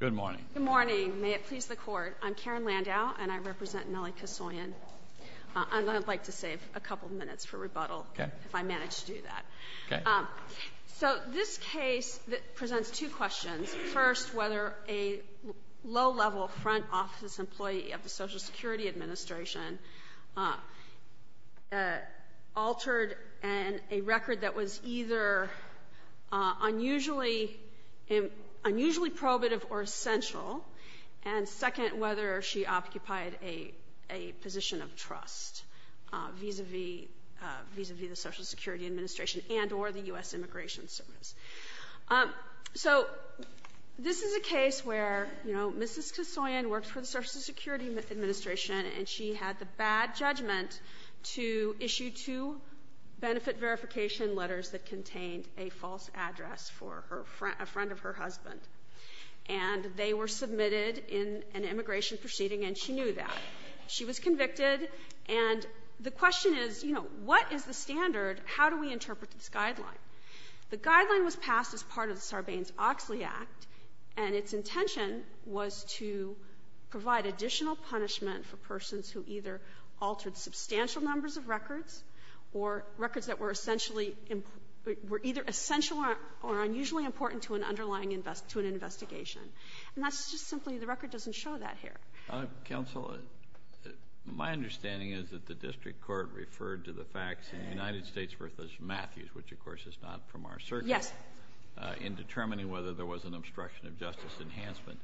Good morning. Good morning. May it please the court, I'm Karen Landau and I represent Nellie Kesoyan. I'd like to save a couple of minutes for rebuttal if I manage to do that. So this case presents two questions. First, whether a low-level front office employee of the Social Security Administration altered a record that was either unusually probative or essential, and second, whether she occupied a position of trust vis-a-vis the Social Security Administration and or the U.S. Immigration Service. So this is a case where, you know, Mrs. Kesoyan worked for the Social Security Administration and she had the bad judgment to issue two benefit verification letters that contained a false address for a friend of her husband. And they were submitted in an immigration proceeding, and she knew that. She was convicted, and the question is, you know, what is the standard? How do we interpret this guideline? The guideline was passed as part of the Sarbanes-Oxley Act, and its intention was to provide additional punishment for persons who either altered substantial numbers of records or records that were essentially — were either essential or unusually important to an underlying — to an investigation. And that's just simply — the record doesn't show that here. Counsel, my understanding is that the district court referred to the facts in the United States v. Matthews, which, of course, is not from our circuit, in determining whether there was an obstruction of justice enhancement.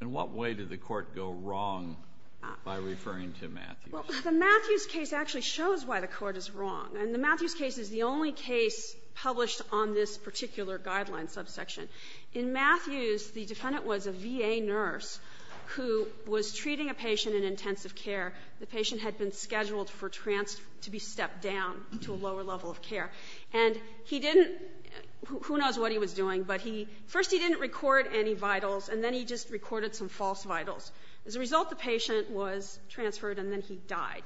In what way did the court go wrong by referring to Matthews? Well, the Matthews case actually shows why the court is wrong. And the Matthews case is the only case published on this particular guideline subsection. In Matthews, the defendant was a VA nurse who was treating a patient in intensive care. The patient had been scheduled for transfer — to be stepped down to a lower level of care. And he didn't — who knows what he was doing, but he — first, he didn't record any vitals, and then he just recorded some false vitals. As a result, the patient was transferred, and then he died.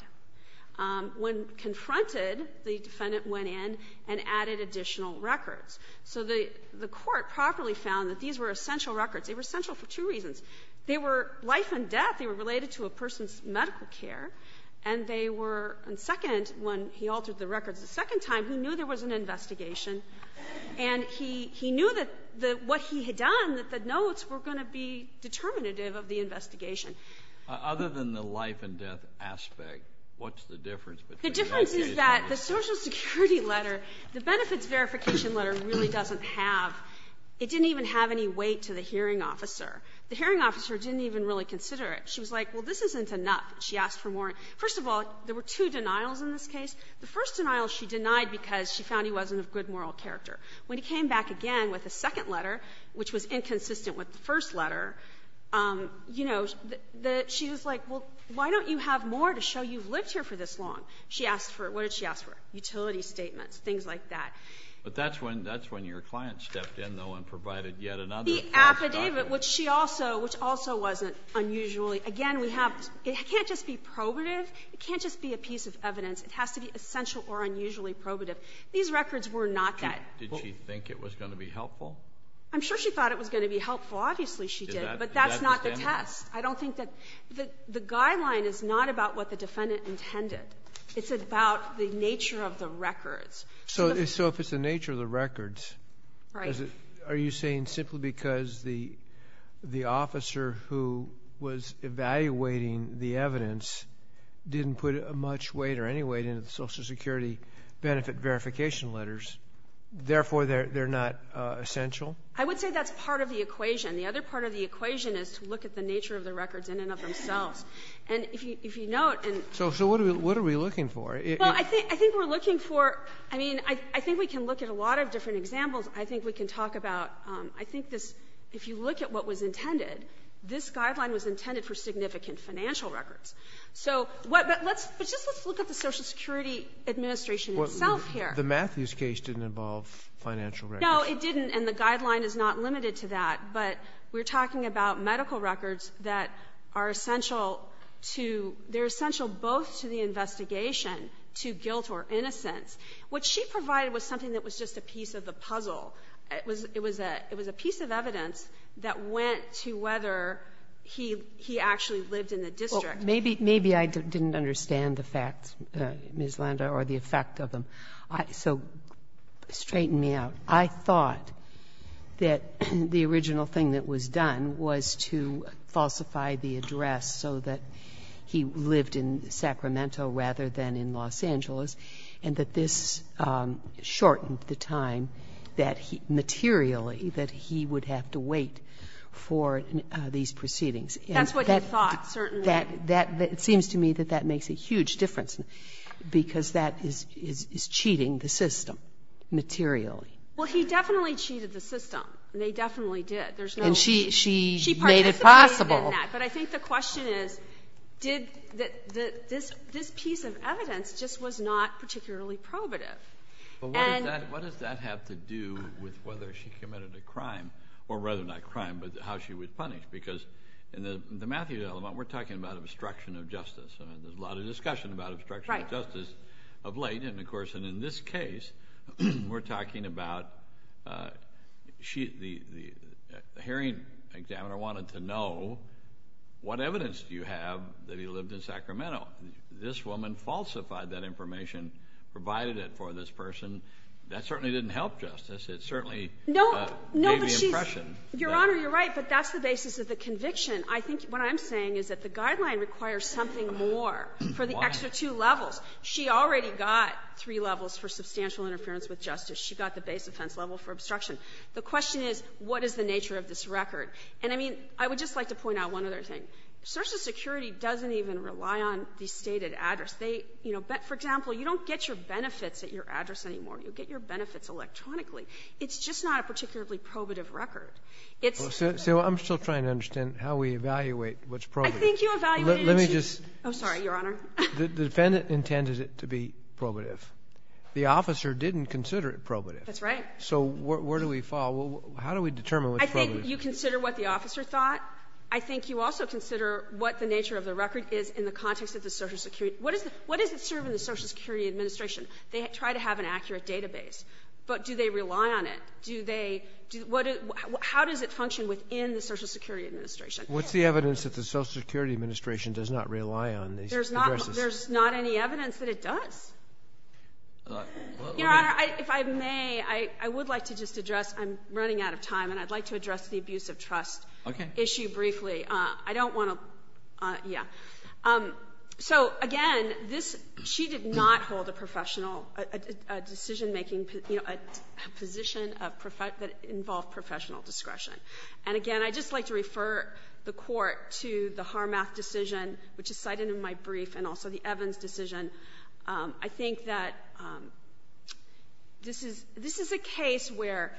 When confronted, the defendant went in and added additional records. So the — the court properly found that these were essential records. They were essential for two reasons. They were life and death. They were related to a person's medical care. And they were — and second, when he altered the records a second time, he knew there was an investigation. And he — he knew that the — what he had done, that the notes were going to be determinative of the investigation. Other than the life and death aspect, what's the difference between all these? The difference is that the Social Security letter, the benefits verification letter, really doesn't have — it didn't even have any weight to the hearing officer. The hearing officer didn't even really consider it. She was like, well, this isn't enough. She asked for more. First of all, there were two denials in this case. The first denial, she denied because she found he wasn't of good moral character. When he came back again with a second letter, which was inconsistent with the first letter, you know, the — she was like, well, why don't you have more to show you've lived here for this long? She asked for — what did she ask for? Utility statements, things like that. But that's when — that's when your client stepped in, though, and provided yet another false document. The affidavit, which she also — which also wasn't unusually — again, we have — it can't just be probative. It can't just be a piece of evidence. It has to be essential or unusually probative. These records were not that — Did she think it was going to be helpful? I'm sure she thought it was going to be helpful. Obviously, she did. But that's not the test. I don't think that — the guideline is not about what the defendant intended. It's about the nature of the records. So if it's the nature of the records, are you saying simply because the — the officer who was evaluating the evidence didn't put much weight or any weight into the Social Security benefit verification letters, therefore, they're — they're not essential? I would say that's part of the equation. The other part of the equation is to look at the nature of the records in and of themselves. And if you — if you note — So — so what are we — what are we looking for? Well, I think — I think we're looking for — I mean, I think we can look at a lot of different examples. I think we can talk about — I think this — if you look at what was intended, this guideline was intended for significant financial records. So what — but let's — but just let's look at the Social Security Administration itself here. The Matthews case didn't involve financial records. No, it didn't. And the guideline is not limited to that. But we're talking about medical records that are essential to — they're essential both to the investigation, to guilt or innocence. What she provided was something that was just a piece of the puzzle. It was — it was a piece of evidence that went to whether he actually lived in the district. Well, maybe — maybe I didn't understand the facts, Ms. Landa, or the effect of them. So straighten me out. I thought that the original thing that was done was to falsify the address so that he lived in Sacramento rather than in Los Angeles, and that this shortened the time that he — materially that he would have to wait for these proceedings. That's what he thought, certainly. That — that — it seems to me that that makes a huge difference, because that is — is cheating the system, materially. Well, he definitely cheated the system, and they definitely did. There's no — And she — she made it possible. She participated in that. But I think the question is, did — this piece of evidence just was not particularly probative. And — But what does that — what does that have to do with whether she committed a crime, or rather not crime, but how she was punished? Because in the — in the Matthews element, we're talking about obstruction of justice. I mean, there's a lot of discussion about obstruction of justice — Right. — of late, and of course — and in this case, we're talking about she — the — the hearing examiner wanted to know, what evidence do you have that he lived in Sacramento? This woman falsified that information, provided it for this person. That certainly didn't help justice. It certainly — No —— gave the impression that — No, but she's — Your Honor, you're right, but that's the basis of the conviction. I think what I'm saying is that the guideline requires something more for the extra two levels. She already got three levels for substantial interference with justice. She got the base offense level for obstruction. The question is, what is the nature of this record? And I mean, I would just like to point out one other thing. Social Security doesn't even rely on the stated address. They — you know, for example, you don't get your benefits at your address anymore. You get your benefits electronically. It's just not a particularly probative record. It's — So I'm still trying to understand how we evaluate what's probative. I think you evaluated — Let me just — Oh, sorry, Your Honor. The defendant intended it to be probative. The officer didn't consider it probative. That's right. So where do we fall? How do we determine what's probative? I think you consider what the officer thought. I think you also consider what the nature of the record is in the context of the Social Security — what does it serve in the Social Security Administration? They try to have an accurate database, but do they rely on it? Do they — how does it function within the Social Security Administration? What's the evidence that the Social Security Administration does not rely on these addresses? There's not any evidence that it does. Your Honor, if I may, I would like to just address — I'm running out of time, and I'd like to address the abuse of trust issue briefly. I don't want to — yeah. So again, this — she did not hold a professional — a decision-making — you know, a position of — that involved professional discretion. And again, I'd just like to refer the Court to the Harmath decision, which is cited in my brief, and also the Evans decision. I think that this is — this is a case where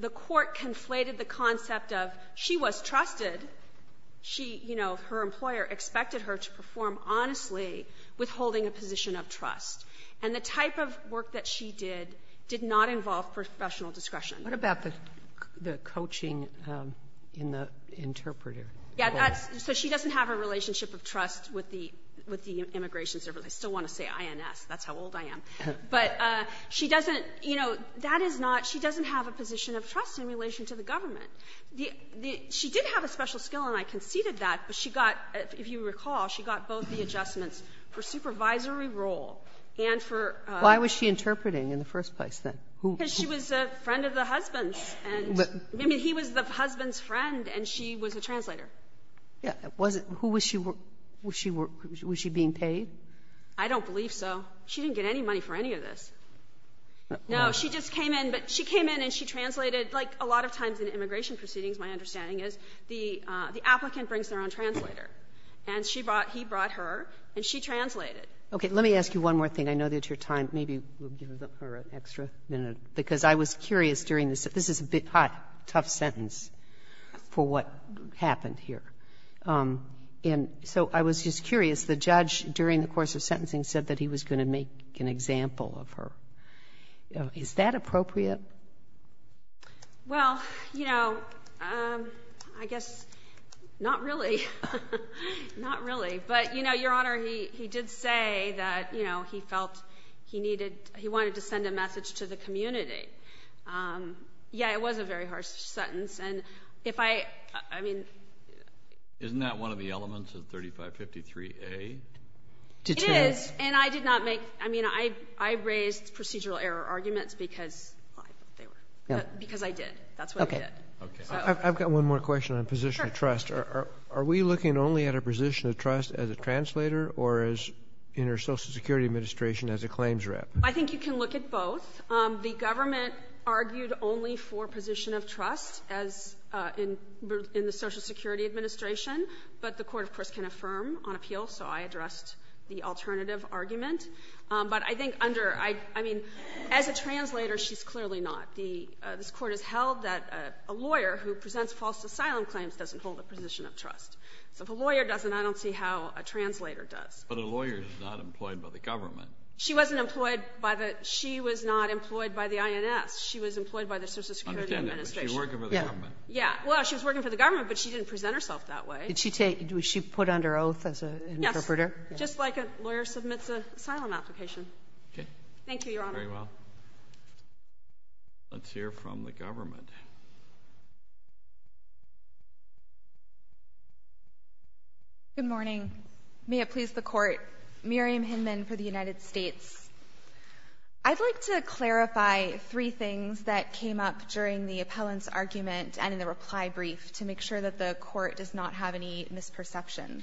the Court conflated the concept of she was trusted, she — you know, her employer expected her to perform honestly, withholding a position of trust. And the type of work that she did did not involve professional discretion. Sotomayor, what about the coaching in the interpreter? Yeah, that's — so she doesn't have a relationship of trust with the — with the Immigration Service. I still want to say INS. That's how old I am. But she doesn't — you know, that is not — she doesn't have a position of trust in relation to the government. She did have a special skill, and I conceded that, but she got — if you recall, she got both the adjustments for supervisory role and for — Why was she interpreting in the first place, then? Who — Because she was a friend of the husband's, and — I mean, he was the husband's friend, and she was a translator. Yeah. Was it — who was she — was she being paid? I don't believe so. She didn't get any money for any of this. No. She just came in, but she came in and she translated. Like, a lot of times in immigration proceedings, my understanding is, the applicant brings their own translator. And she brought — he brought her, and she translated. Okay. Let me ask you one more thing. I know that your time — maybe we'll give her an extra minute, because I was curious during the — this is a bit hot, tough sentence for what happened here. And so I was just curious, the judge during the course of sentencing said that he was going to make an example of her. Is that appropriate? Well, you know, I guess not really. Not really. But, you know, Your Honor, he did say that, you know, he felt he needed — he wanted to send a message to the community. Yeah, it was a very harsh sentence. And if I — I mean — Isn't that one of the elements of 3553A? It is. And I did not make — I mean, I raised procedural error arguments because they were — because I did. That's what I did. Okay. Okay. I've got one more question on position of trust. Sure. Are we looking only at a position of trust as a translator or as — in our Social Security Administration as a claims rep? I think you can look at both. The government argued only for position of trust as in the Social Security Administration. But the Court, of course, can affirm on appeal, so I addressed the alternative argument. But I think under — I mean, as a translator, she's clearly not. The — this Court has held that a lawyer who presents false asylum claims doesn't hold a position of trust. So if a lawyer doesn't, I don't see how a translator does. But a lawyer is not employed by the government. She wasn't employed by the — she was not employed by the INS. She was employed by the Social Security Administration. I understand that. But she was working for the government. Yeah. Yeah. Well, she was working for the government, but she didn't present herself that way. Did she take — was she put under oath as an interpreter? Yes. Just like a lawyer submits an asylum application. Okay. Thank you, Your Honor. Very well. Let's hear from the government. Good morning. May it please the Court. Miriam Hinman for the United States. I'd like to clarify three things that came up during the appellant's argument and in the reply brief to make sure that the Court does not have any misperceptions.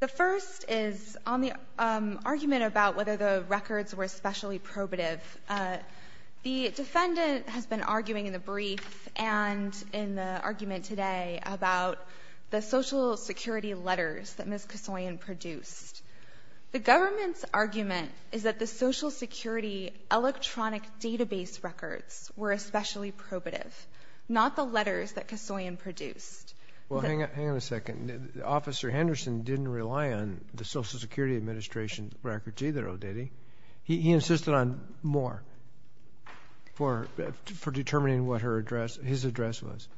The first is on the argument about whether the records were specially probative. The defendant has been arguing in the brief and in the argument today about the Social Security letters that Ms. Kassoyan produced. The government's argument is that the Social Security electronic database records were especially probative, not the letters that Kassoyan produced. Well, hang on a second. Officer Henderson didn't rely on the Social Security Administration records either, did he? He insisted on more for determining what her address — his address was.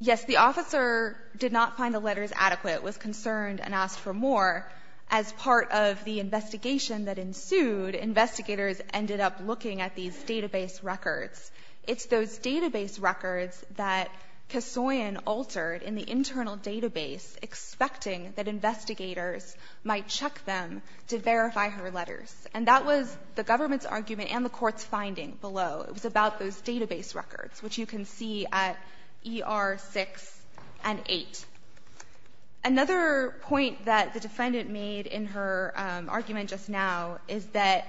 Yes, the officer did not find the letters adequate, was concerned, and asked for more. As part of the investigation that ensued, investigators ended up looking at these database records. It's those database records that Kassoyan altered in the internal database, expecting that investigators might check them to verify her letters. And that was the government's argument and the Court's finding below. It was about those database records, which you can see at ER 6 and 8. Another point that the defendant made in her argument just now is that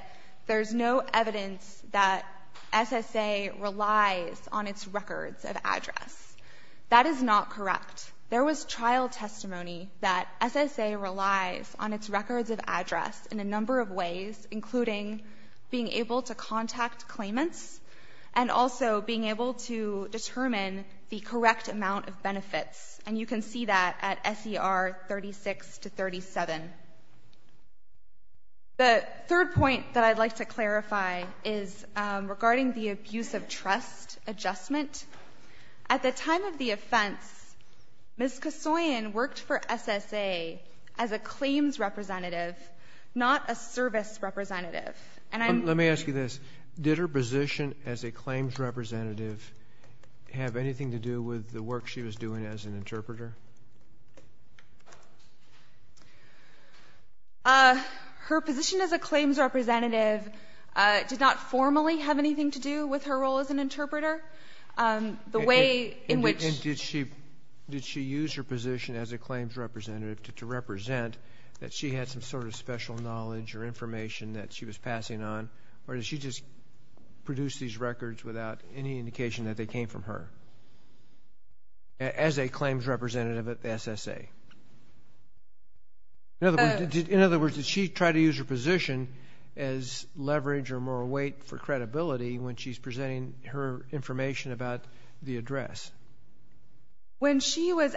there's no evidence that SSA relies on its records of address. That is not correct. There was trial testimony that SSA relies on its records of address in a number of cases, and also being able to determine the correct amount of benefits. And you can see that at SER 36 to 37. The third point that I'd like to clarify is regarding the abuse of trust adjustment. At the time of the offense, Ms. Kassoyan worked for SSA as a claims representative, not a service representative. And I'm... Let me ask you this. Did her position as a claims representative have anything to do with the work she was doing as an interpreter? Her position as a claims representative did not formally have anything to do with her role as an interpreter. The way in which... And did she use her position as a claims representative to represent that she had some sort of special knowledge or information that she was passing on? Or did she just produce these records without any indication that they came from her as a claims representative at SSA? In other words, did she try to use her position as leverage or moral weight for credibility When she was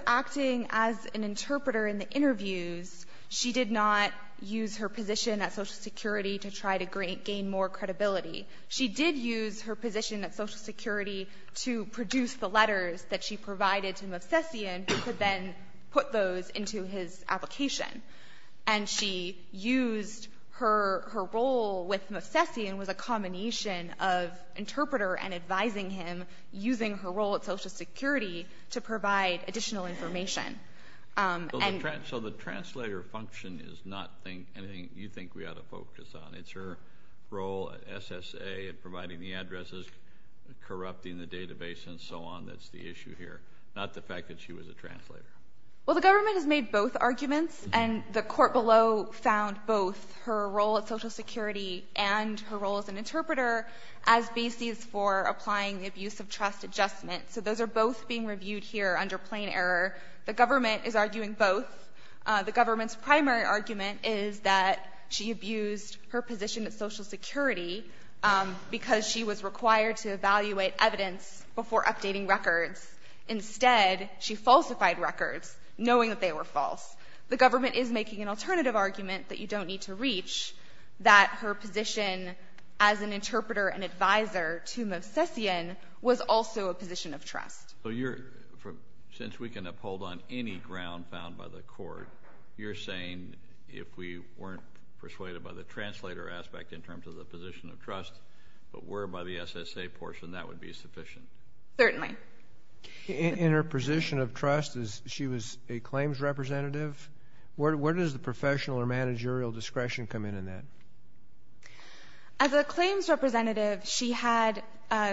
acting as an interpreter in the interviews, she did not use her position at Social Security to try to gain more credibility. She did use her position at Social Security to produce the letters that she provided to Movsesian who could then put those into his application. And she used her role with Movsesian was a combination of interpreter and advising him using her role at Social Security to provide additional information. So the translator function is not anything you think we ought to focus on. It's her role at SSA in providing the addresses, corrupting the database and so on that's the issue here. Not the fact that she was a translator. Well the government has made both arguments and the court below found both her role at abuse of trust adjustment. So those are both being reviewed here under plain error. The government is arguing both. The government's primary argument is that she abused her position at Social Security because she was required to evaluate evidence before updating records. Instead, she falsified records knowing that they were false. The government is making an alternative argument that you don't need to reach that her position as an interpreter and advisor to Movsesian was also a position of trust. Since we can uphold on any ground found by the court, you're saying if we weren't persuaded by the translator aspect in terms of the position of trust, but were by the SSA portion, that would be sufficient? Certainly. In her position of trust, she was a claims representative? Where does the professional or managerial discretion come in in that? As a claims representative, she had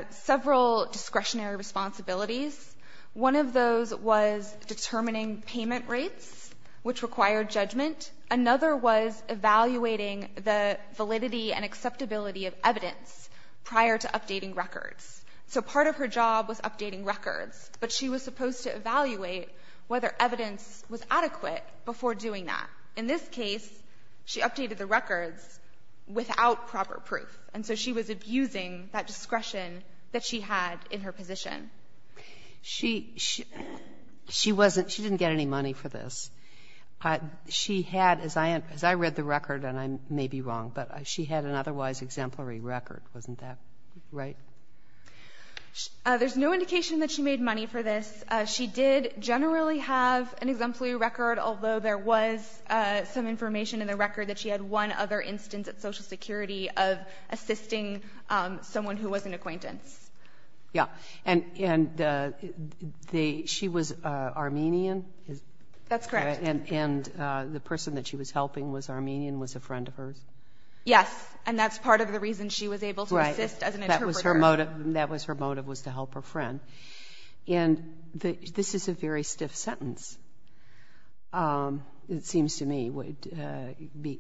several discretionary responsibilities. One of those was determining payment rates, which required judgment. Another was evaluating the validity and acceptability of evidence prior to updating records. So part of her job was updating records, but she was supposed to evaluate whether evidence was adequate before doing that. In this case, she updated the records without proper proof, and so she was abusing that discretion that she had in her position. She wasn't – she didn't get any money for this. She had, as I read the record, and I may be wrong, but she had an otherwise exemplary record, wasn't that right? There's no indication that she made money for this. She did generally have an exemplary record, although there was some information in the record that she had one other instance at Social Security of assisting someone who was an acquaintance. Yeah. And she was Armenian? That's correct. And the person that she was helping was Armenian, was a friend of hers? Yes. And that's part of the reason she was able to assist as an interpreter. Right. That was her motive, was to help her friend. And this is a very stiff sentence, it seems to me,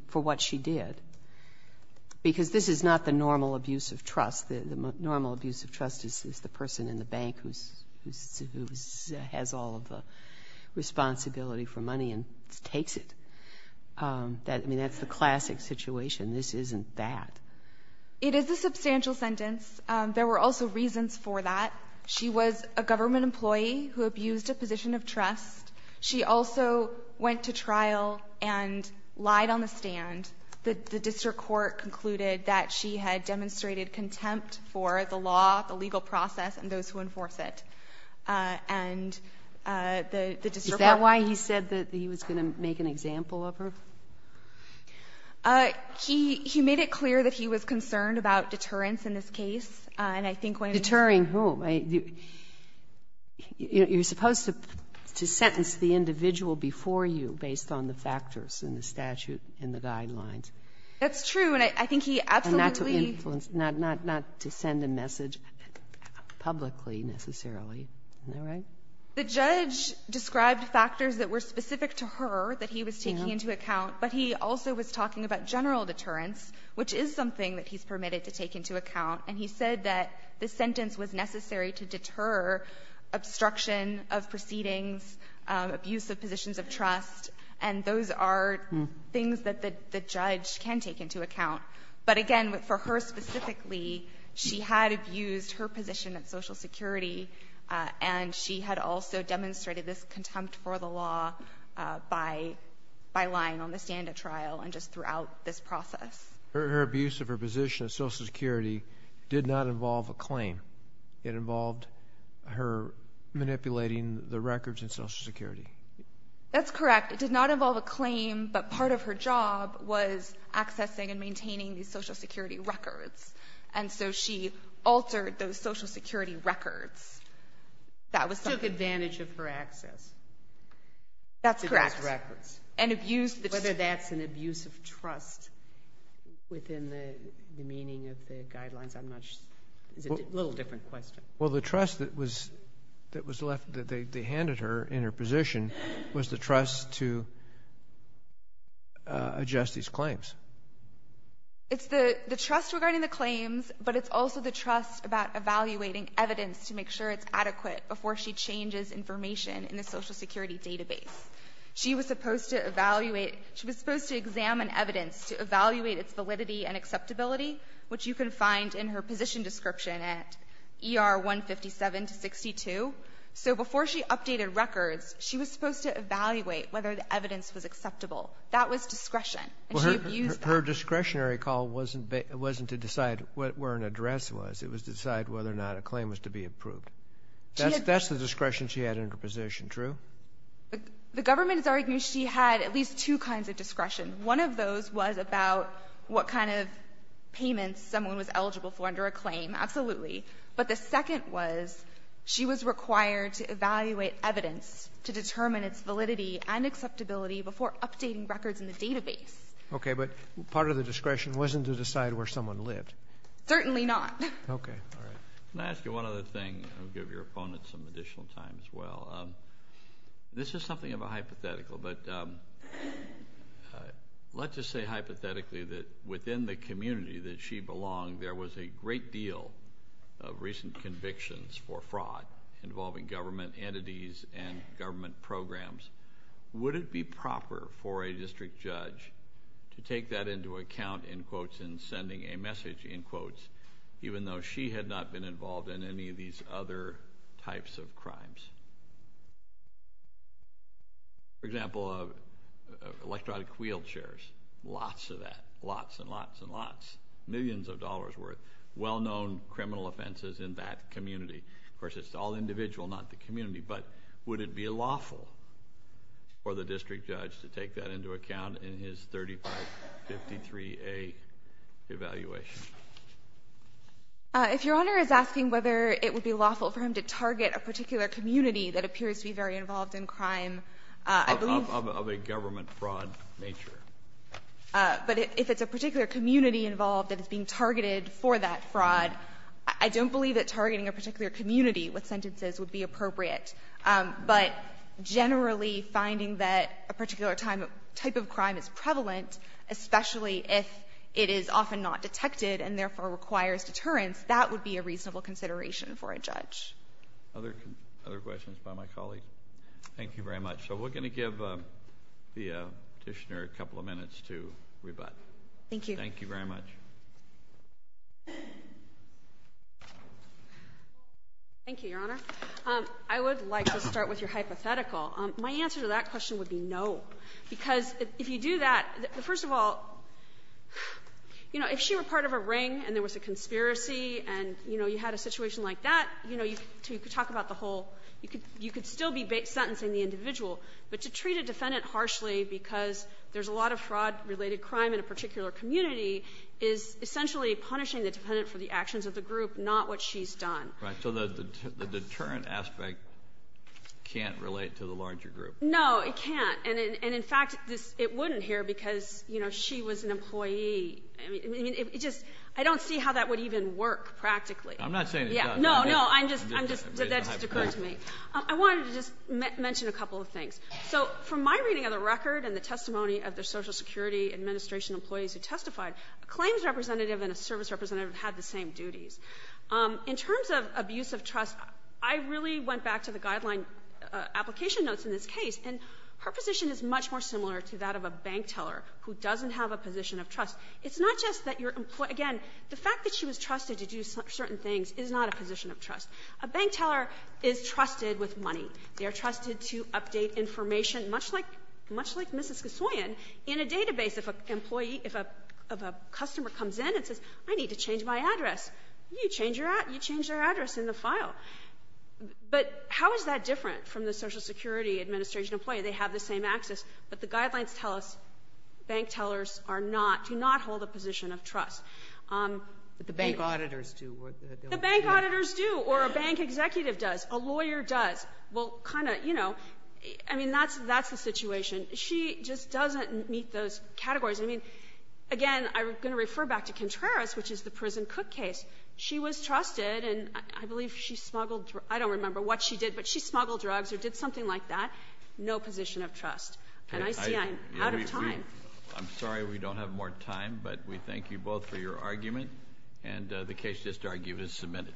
for what she did, because this is not the normal abuse of trust. The normal abuse of trust is the person in the bank who has all of the responsibility for money and takes it. I mean, that's the classic situation. This isn't that. It is a substantial sentence. There were also reasons for that. She was a government employee who abused a position of trust. She also went to trial and lied on the stand. The district court concluded that she had demonstrated contempt for the law, the legal process, and those who enforce it. And the district court ---- Is that why he said that he was going to make an example of her? He made it clear that he was concerned about deterrence in this case. And I think when ---- Deterring whom? You're supposed to sentence the individual before you based on the factors in the statute and the guidelines. That's true. And I think he absolutely ---- And not to influence, not to send a message publicly, necessarily. Isn't that right? The judge described factors that were specific to her that he was taking into account, but he also was talking about general deterrence, which is something that he's permitted to take into account. And he said that the sentence was necessary to deter obstruction of proceedings, abuse of positions of trust. And those are things that the judge can take into account. But again, for her specifically, she had abused her position at Social Security, and she had also demonstrated this contempt for the law by lying on the stand at trial and just throughout this process. Her abuse of her position at Social Security did not involve a claim. It involved her manipulating the records in Social Security. That's correct. It did not involve a claim, but part of her job was accessing and maintaining these Social Security records. And so she altered those Social Security records. That was something. She took advantage of her access. That's correct. To those records. And abused the ---- Within the meaning of the guidelines, I'm not sure. It's a little different question. Well, the trust that was left, that they handed her in her position, was the trust to adjust these claims. It's the trust regarding the claims, but it's also the trust about evaluating evidence to make sure it's adequate before she changes information in the Social Security database. She was supposed to evaluate. She was supposed to examine evidence to evaluate its validity and acceptability, which you can find in her position description at ER 157-62. So before she updated records, she was supposed to evaluate whether the evidence was acceptable. That was discretion. And she abused that. Well, her discretionary call wasn't to decide where an address was. It was to decide whether or not a claim was to be approved. That's the discretion she had in her position, true? The government is arguing she had at least two kinds of discretion. One of those was about what kind of payments someone was eligible for under a claim. Absolutely. But the second was she was required to evaluate evidence to determine its validity and acceptability before updating records in the database. Okay. But part of the discretion wasn't to decide where someone lived. Certainly not. Okay. All right. Can I ask you one other thing? I'll give your opponent some additional time as well. This is something of a hypothetical, but let's just say hypothetically that within the community that she belonged, there was a great deal of recent convictions for fraud involving government entities and government programs. Would it be proper for a district judge to take that into account in quotes in sending a message, in quotes, even though she had not been involved in any of these other types of crimes? For example, electronic wheelchairs. Lots of that. Lots and lots and lots. Millions of dollars worth. Well-known criminal offenses in that community. Of course, it's all individual, not the community. But would it be lawful for the district judge to take that into account in his 3553A evaluation? If Your Honor is asking whether it would be lawful for him to target a particular community that appears to be very involved in crime, I believe- Of a government fraud nature. But if it's a particular community involved that is being targeted for that fraud, I don't believe that targeting a particular community with sentences would be appropriate. But generally, finding that a particular type of crime is prevalent, especially if it is often not detected and therefore requires deterrence, that would be a reasonable consideration for a judge. Other questions by my colleague? Thank you very much. So we're going to give the petitioner a couple of minutes to rebut. Thank you. Thank you very much. Thank you, Your Honor. I would like to start with your hypothetical. My answer to that question would be no. Because if you do that, first of all, you know, if she were part of a ring and there was a conspiracy and, you know, you had a situation like that, you know, you could talk about the whole you could still be sentencing the individual. But to treat a defendant harshly because there's a lot of fraud-related crime in a particular community is essentially punishing the defendant for the actions of the group, not what she's done. Right. So the deterrent aspect can't relate to the larger group. No, it can't. And in fact, it wouldn't here because, you know, she was an employee. I mean, it just I don't see how that would even work practically. I'm not saying it doesn't. No, no. That just occurred to me. I wanted to just mention a couple of things. So from my reading of the record and the testimony of the Social Security Administration employees who testified, a claims representative and a service representative had the same duties. In terms of abuse of trust, I really went back to the guideline application notes in this case, and her position is much more similar to that of a bank teller who doesn't have a position of trust. It's not just that your employee, again, the fact that she was trusted to do certain things is not a position of trust. A bank teller is trusted with money. They are trusted to update information, much like Mrs. Kassoyan, in a database if an employee, if a customer comes in and says, I need to change my address, you change their address in the file. But how is that different from the Social Security Administration employee? They have the same access, but the guidelines tell us bank tellers are not, do not hold a position of trust. But the bank auditors do. The bank auditors do, or a bank executive does, a lawyer does. Well, kind of, you know, I mean, that's the situation. She just doesn't meet those categories. I mean, again, I'm going to refer back to Contreras, which is the prison cook case. She was trusted, and I believe she smuggled drugs. I don't remember what she did, but she smuggled drugs or did something like that. No position of trust. And I see I'm out of time. I'm sorry we don't have more time, but we thank you both for your argument, and the case just argued is submitted.